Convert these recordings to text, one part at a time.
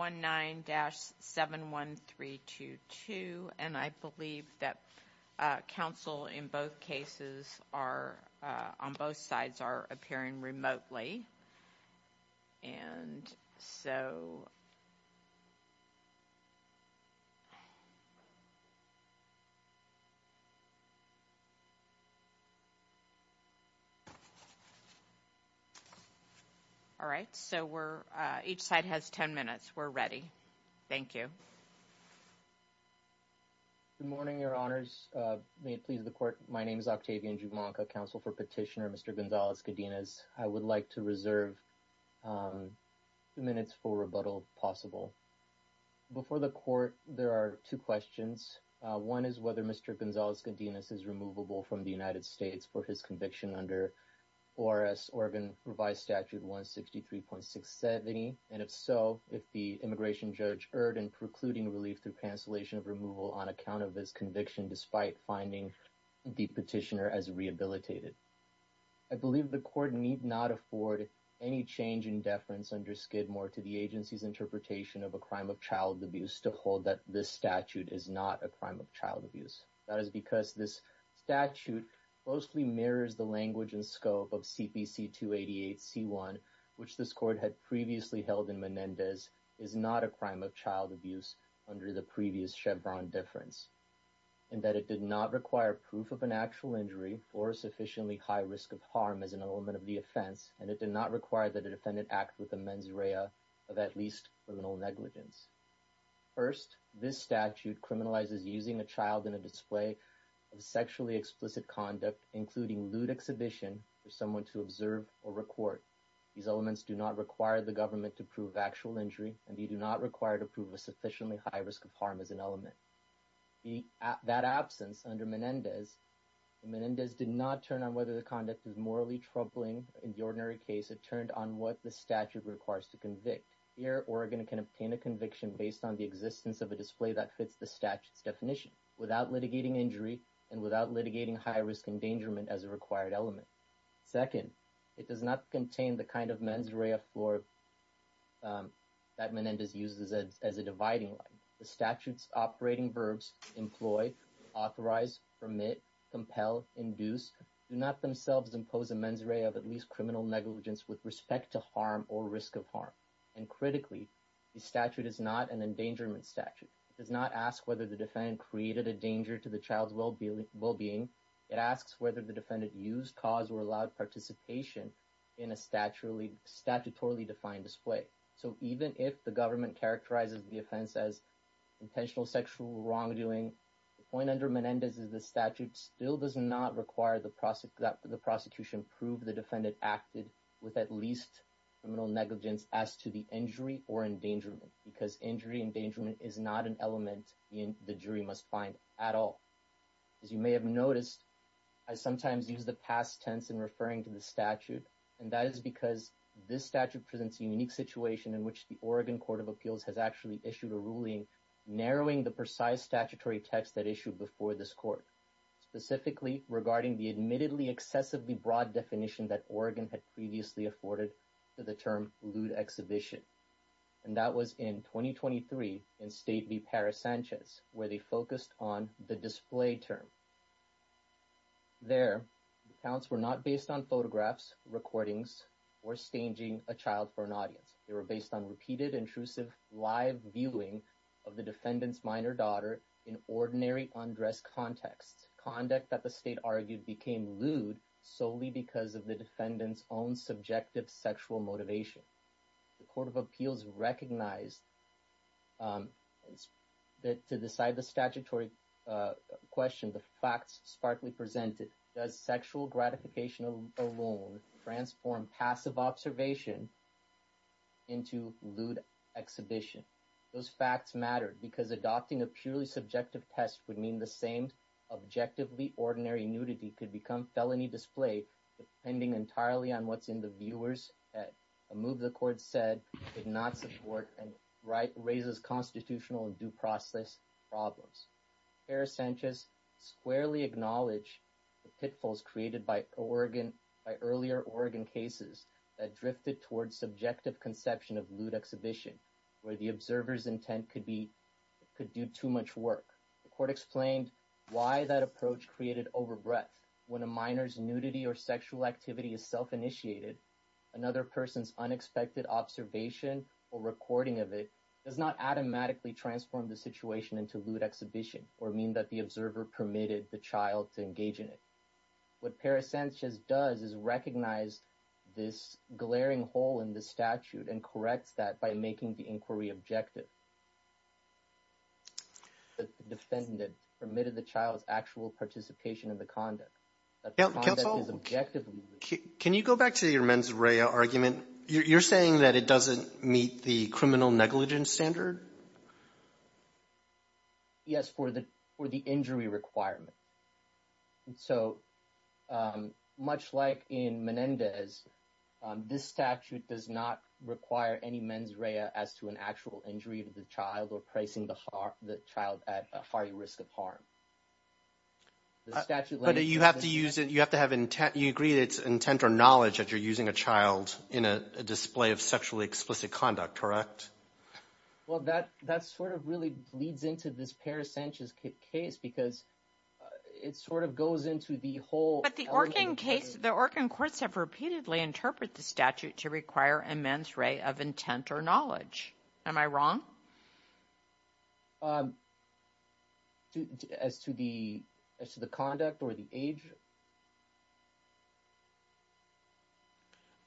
19-71322 and I believe that council in both cases are on both sides are appearing remotely and so all right so we're each side has 10 minutes we're ready thank you good morning your honors may it please the court my name is Octavian Jumanka counsel for petitioner Mr. Gonzalez-Godinez I would like to reserve minutes for rebuttal possible before the court there are two questions one is whether Mr. Gonzalez-Godinez is removable from the United States for his conviction under ORS Oregon revised statute 163.670 and if so if the immigration judge erred in precluding relief through cancellation of removal on account of this conviction despite finding the petitioner as rehabilitated I believe the court need not afford any change in deference under Skidmore to the agency's interpretation of a crime of child abuse to hold that this statute is not a crime of child abuse that is because this statute mostly mirrors the language and scope of CPC 288 c1 which this court had previously held in Menendez is not a crime of child abuse under the previous Chevron difference and that it did not require proof of an actual injury or a sufficiently high risk of harm as an element of the offense and it did not require that a defendant act with the mens rea of at least criminal negligence first this statute criminalizes using a child in a display of sexually explicit conduct including lewd exhibition for someone to observe or record these elements do not require the government to prove actual injury and you do not require to prove a high risk of harm as an element that absence under Menendez Menendez did not turn on whether the conduct is morally troubling in the ordinary case it turned on what the statute requires to convict here Oregon can obtain a conviction based on the existence of a display that fits the statutes definition without litigating injury and without litigating high-risk endangerment as a required element second it does not contain the kind of mens rea floor that Menendez uses as a dividing line the statutes operating verbs employ authorized permit compel induce do not themselves impose a mens rea of at least criminal negligence with respect to harm or risk of harm and critically the statute is not an endangerment statute does not ask whether the defendant created a danger to the child's well-being well-being it asks whether the defendant used cause or allowed participation in a statuary statutorily defined display so even if the government characterizes the offense as intentional sexual wrongdoing the point under Menendez is the statute still does not require the process that the prosecution prove the defendant acted with at least criminal negligence as to the injury or endangerment because injury endangerment is not an element in the jury must find at all as you may have noticed I sometimes use the past tense in referring to the statute and that is because this statute presents a unique situation in which the Oregon Court of Appeals has actually issued a ruling narrowing the precise statutory text that issued before this court specifically regarding the admittedly excessively broad definition that Oregon had previously afforded to the term lewd exhibition and that was in 2023 in state be Paris Sanchez where they focused on the display term there accounts were not based on photographs recordings or staging a child for an audience they were based on repeated intrusive live viewing of the defendant's minor daughter in ordinary undressed context conduct that the state argued became lewd solely because of the defendants own subjective sexual motivation the Court of Appeals recognized that to decide the statutory question the facts sparkly presented does sexual gratification alone transform passive observation into lewd exhibition those facts matter because adopting a purely subjective test would mean the same objectively ordinary nudity could become felony display depending entirely on what's in the viewers at a move the court said did not support and right raises constitutional and due process problems Paris Sanchez squarely acknowledged the pitfalls created by Oregon by earlier Oregon cases that drifted towards subjective conception of lewd exhibition where the observers intent could be could do too much work the court explained why that approach created overbreath when a minors nudity or sexual activity is self-initiated another person's unexpected observation or recording of it does not automatically transform the situation into lewd exhibition or mean that the observer permitted the child to what Paris Sanchez does is recognize this glaring hole in the statute and corrects that by making the inquiry objective the defendant permitted the child's actual participation in the conduct objectively can you go back to your mens rea argument you're saying that it doesn't meet the criminal negligence standard yes for the for the injury requirement so much like in Menendez this statute does not require any men's rea as to an actual injury to the child or pricing the heart the child at a fiery risk of harm but you have to use it you have to have intent you agree that's intent or knowledge that you're using a child in a display of sexually explicit conduct correct well that that's sort of really bleeds into this case because it sort of goes into the whole but the organ case the organ courts have repeatedly interpret the statute to require a mens rea of intent or knowledge am I wrong as to the as to the conduct or the age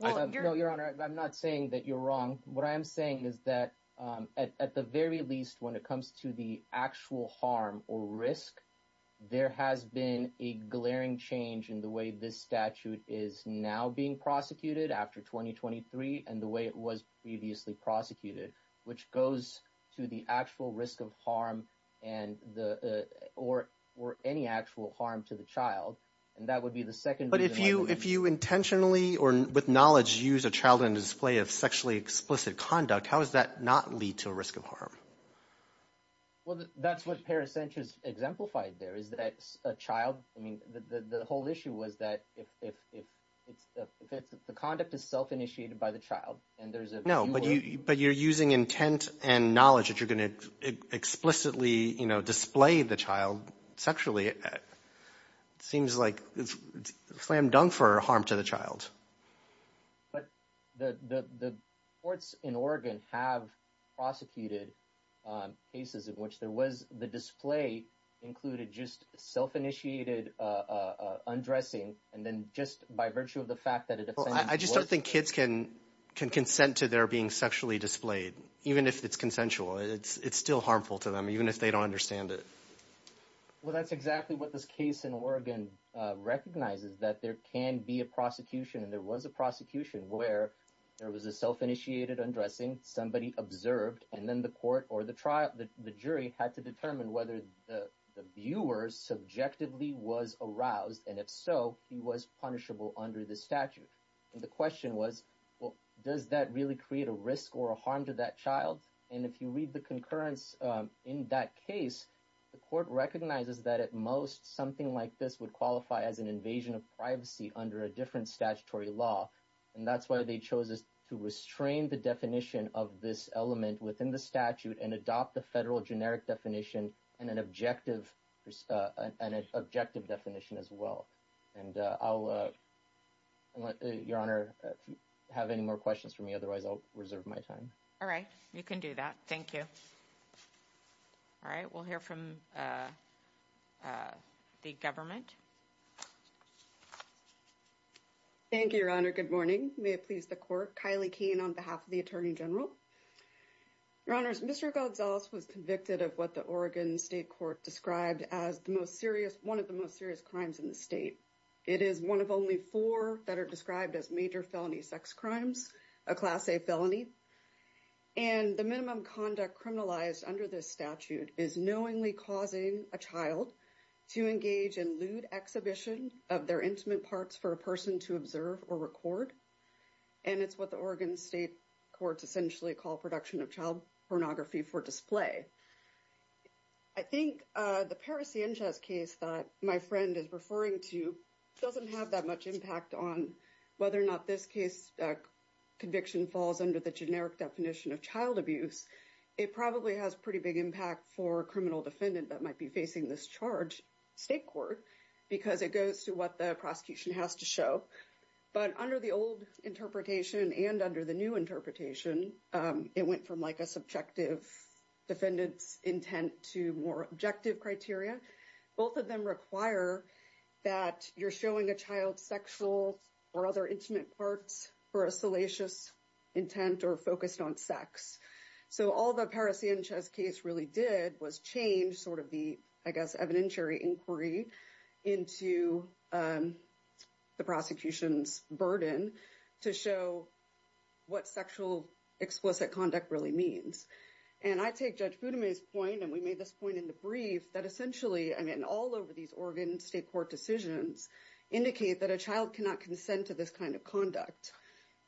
well your honor I'm not saying that you're wrong what I am saying is that at the very least when it comes to the actual harm or risk there has been a glaring change in the way this statute is now being prosecuted after 2023 and the way it was previously prosecuted which goes to the actual risk of harm and the or or any actual harm to the child and that would be the second but if you if you intentionally or with knowledge use a child in display of sexually explicit conduct how does that not lead to a risk of harm well that's what paracenters exemplified there is that a child I mean the whole issue was that if the conduct is self-initiated by the child and there's a no but you but you're using intent and knowledge that you're gonna explicitly you know display the child sexually it seems like it's slam-dunk for harm to the child but the the courts in Oregon have prosecuted cases in which there was the display included just self-initiated undressing and then just by virtue of the fact that it I just don't think kids can can consent to their being sexually displayed even if it's consensual it's it's still harmful to them even if they don't understand it well that's exactly what this case in Oregon recognizes that there can be a prosecution and there was a prosecution where there was a self-initiated undressing somebody observed and then the court or the trial the jury had to determine whether the viewers subjectively was aroused and if so he was punishable under the statute the question was well does that really create a risk or a harm to that child and if you read the concurrence in that case the court recognizes that at most something like this would qualify as an invasion of privacy under a different statutory law and that's why they chose us to restrain the definition of this element within the statute and adopt the federal generic definition and an objective an objective definition as well and I'll let your honor have any more questions for me otherwise I'll reserve my time all right you can do that thank you all right we'll hear from the government thank you your honor good morning may it please the court Kylie Kane on behalf of the Attorney General your honors mr. Gonzalez was convicted of what the Oregon State Court described as the most serious one of the most serious crimes in the state it is one of only four that are described as major felony sex crimes a class-a felony and the minimum conduct criminalized under this statute is knowingly causing a child to engage in lewd exhibition of their intimate parts for a person to observe or record and it's what the Oregon State Courts essentially call production of child pornography for display I think the Paris Inches case that my friend is referring to doesn't have that much impact on whether or not this case conviction falls under the definition of child abuse it probably has pretty big impact for criminal defendant that might be facing this charge State Court because it goes to what the prosecution has to show but under the old interpretation and under the new interpretation it went from like a subjective defendants intent to more objective criteria both of them require that you're showing a child sexual or other intimate parts for a salacious intent or focused on sex so all the Paris Inches case really did was change sort of the I guess evidentiary inquiry into the prosecution's burden to show what sexual explicit conduct really means and I take judge Buddha maze point and we made this point in the brief that essentially I mean all over these Oregon State Court decisions indicate that a child cannot consent to this kind of conduct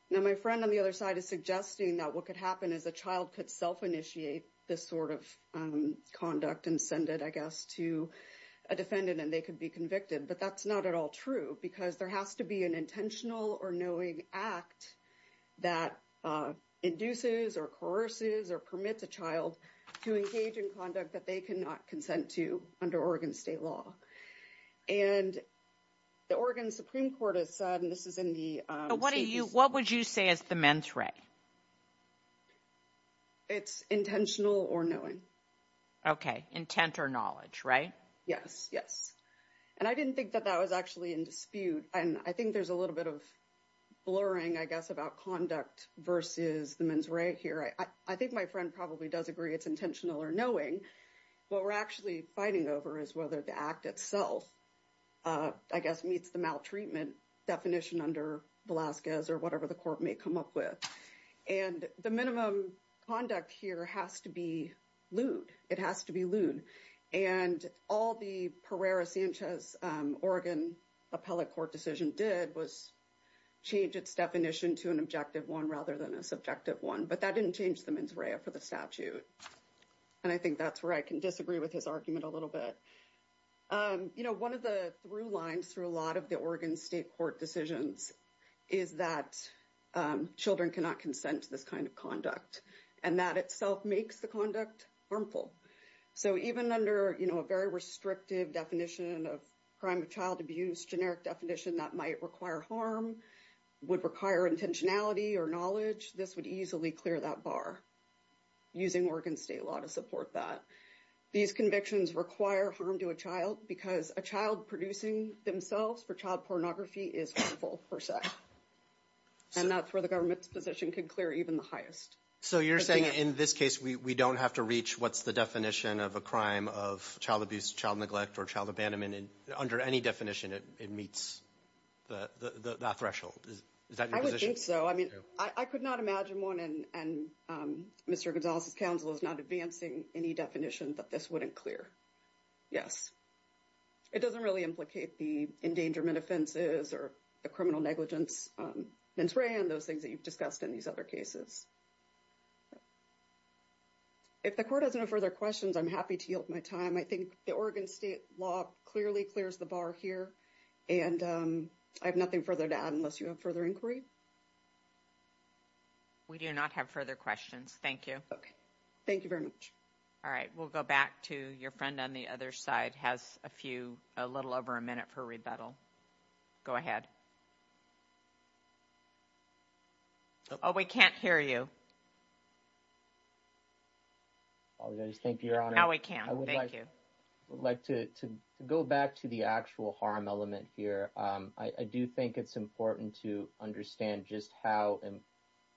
now my friend on the other side is suggesting that what could happen is a child could self-initiate this sort of conduct and send it I guess to a defendant and they could be convicted but that's not at all true because there has to be an intentional or knowing act that induces or courses or permits a child to engage in conduct that they cannot consent to under Oregon state law and the Oregon Supreme Court has said and this is in the what do you what would you say as the mens re it's intentional or knowing okay intent or knowledge right yes yes and I didn't think that that was actually in dispute and I think there's a little bit of blurring I guess about conduct versus the men's right here I I think my friend probably does agree it's intentional or knowing what we're actually fighting over is whether the act itself I guess meets the maltreatment definition under Velasquez or whatever the court may come up with and the minimum conduct here has to be lewd it has to be lewd and all the Pereira Sanchez Oregon appellate court decision did was change its definition to an objective one rather than a one but that didn't change the mens rea for the statute and I think that's where I can disagree with his argument a little bit you know one of the through lines through a lot of the Oregon State Court decisions is that children cannot consent to this kind of conduct and that itself makes the conduct harmful so even under you know a very restrictive definition of crime of child abuse generic definition that might require harm would require intentionality or knowledge this would easily clear that bar using Oregon state law to support that these convictions require harm to a child because a child producing themselves for child pornography is full for sex and that's where the government's position could clear even the highest so you're saying in this case we don't have to reach what's the definition of a crime of child abuse child neglect or child abandonment and under any definition it meets the threshold so I mean I could not imagine one and Mr. Gonzalez's counsel is not advancing any definition that this wouldn't clear yes it doesn't really implicate the endangerment offenses or the criminal negligence mens rea and those things that you've discussed in these other cases if the court has no further questions I'm happy to yield my time I think the Oregon State law clearly clears the bar here and I have nothing further to add unless you have further inquiry we do not have further questions thank you okay thank you very much all right we'll go back to your friend on the other side has a few a little over a minute for rebuttal go ahead oh we can't hear you I just think you're on how I can I would like to go back to the actual harm element here I do think it's important to understand just how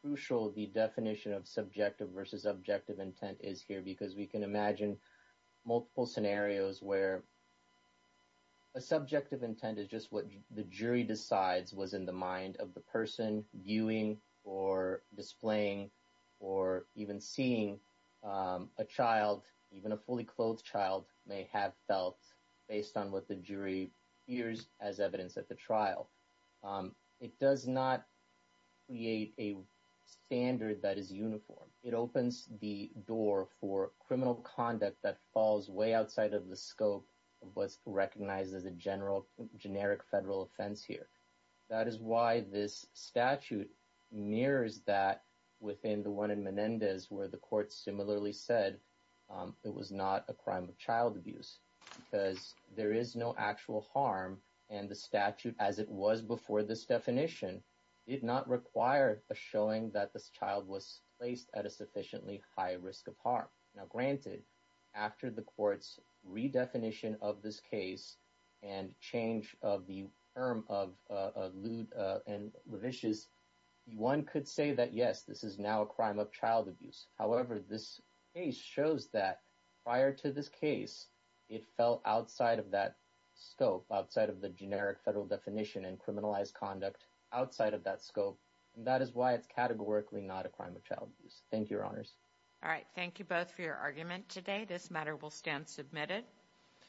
crucial the definition of subjective versus objective intent is here because we can imagine multiple scenarios where a subjective intent is just what the jury decides was in the mind of the person viewing or displaying or even seeing a child even a fully clothed child may have felt based on what the jury ears as evidence at the trial it does not create a standard that is uniform it opens the door for criminal conduct that falls way outside of the scope of what's recognized as a general generic federal offense here that is why this statute mirrors that within the one in Menendez where the court similarly said it was not a crime of child abuse because there is no actual harm and the statute as it was before this definition did not require a showing that this child was placed at a sufficiently high risk of harm now granted after the court's redefinition of this case and change of the erm of lewd and vicious one could say that yes this is now a crime of child abuse however this case shows that prior to this case it fell outside of that scope outside of the generic federal definition and criminalized conduct outside of that scope and that is why it's categorically not a crime of child abuse thank your honors all right thank you both for your argument today this matter will stand submitted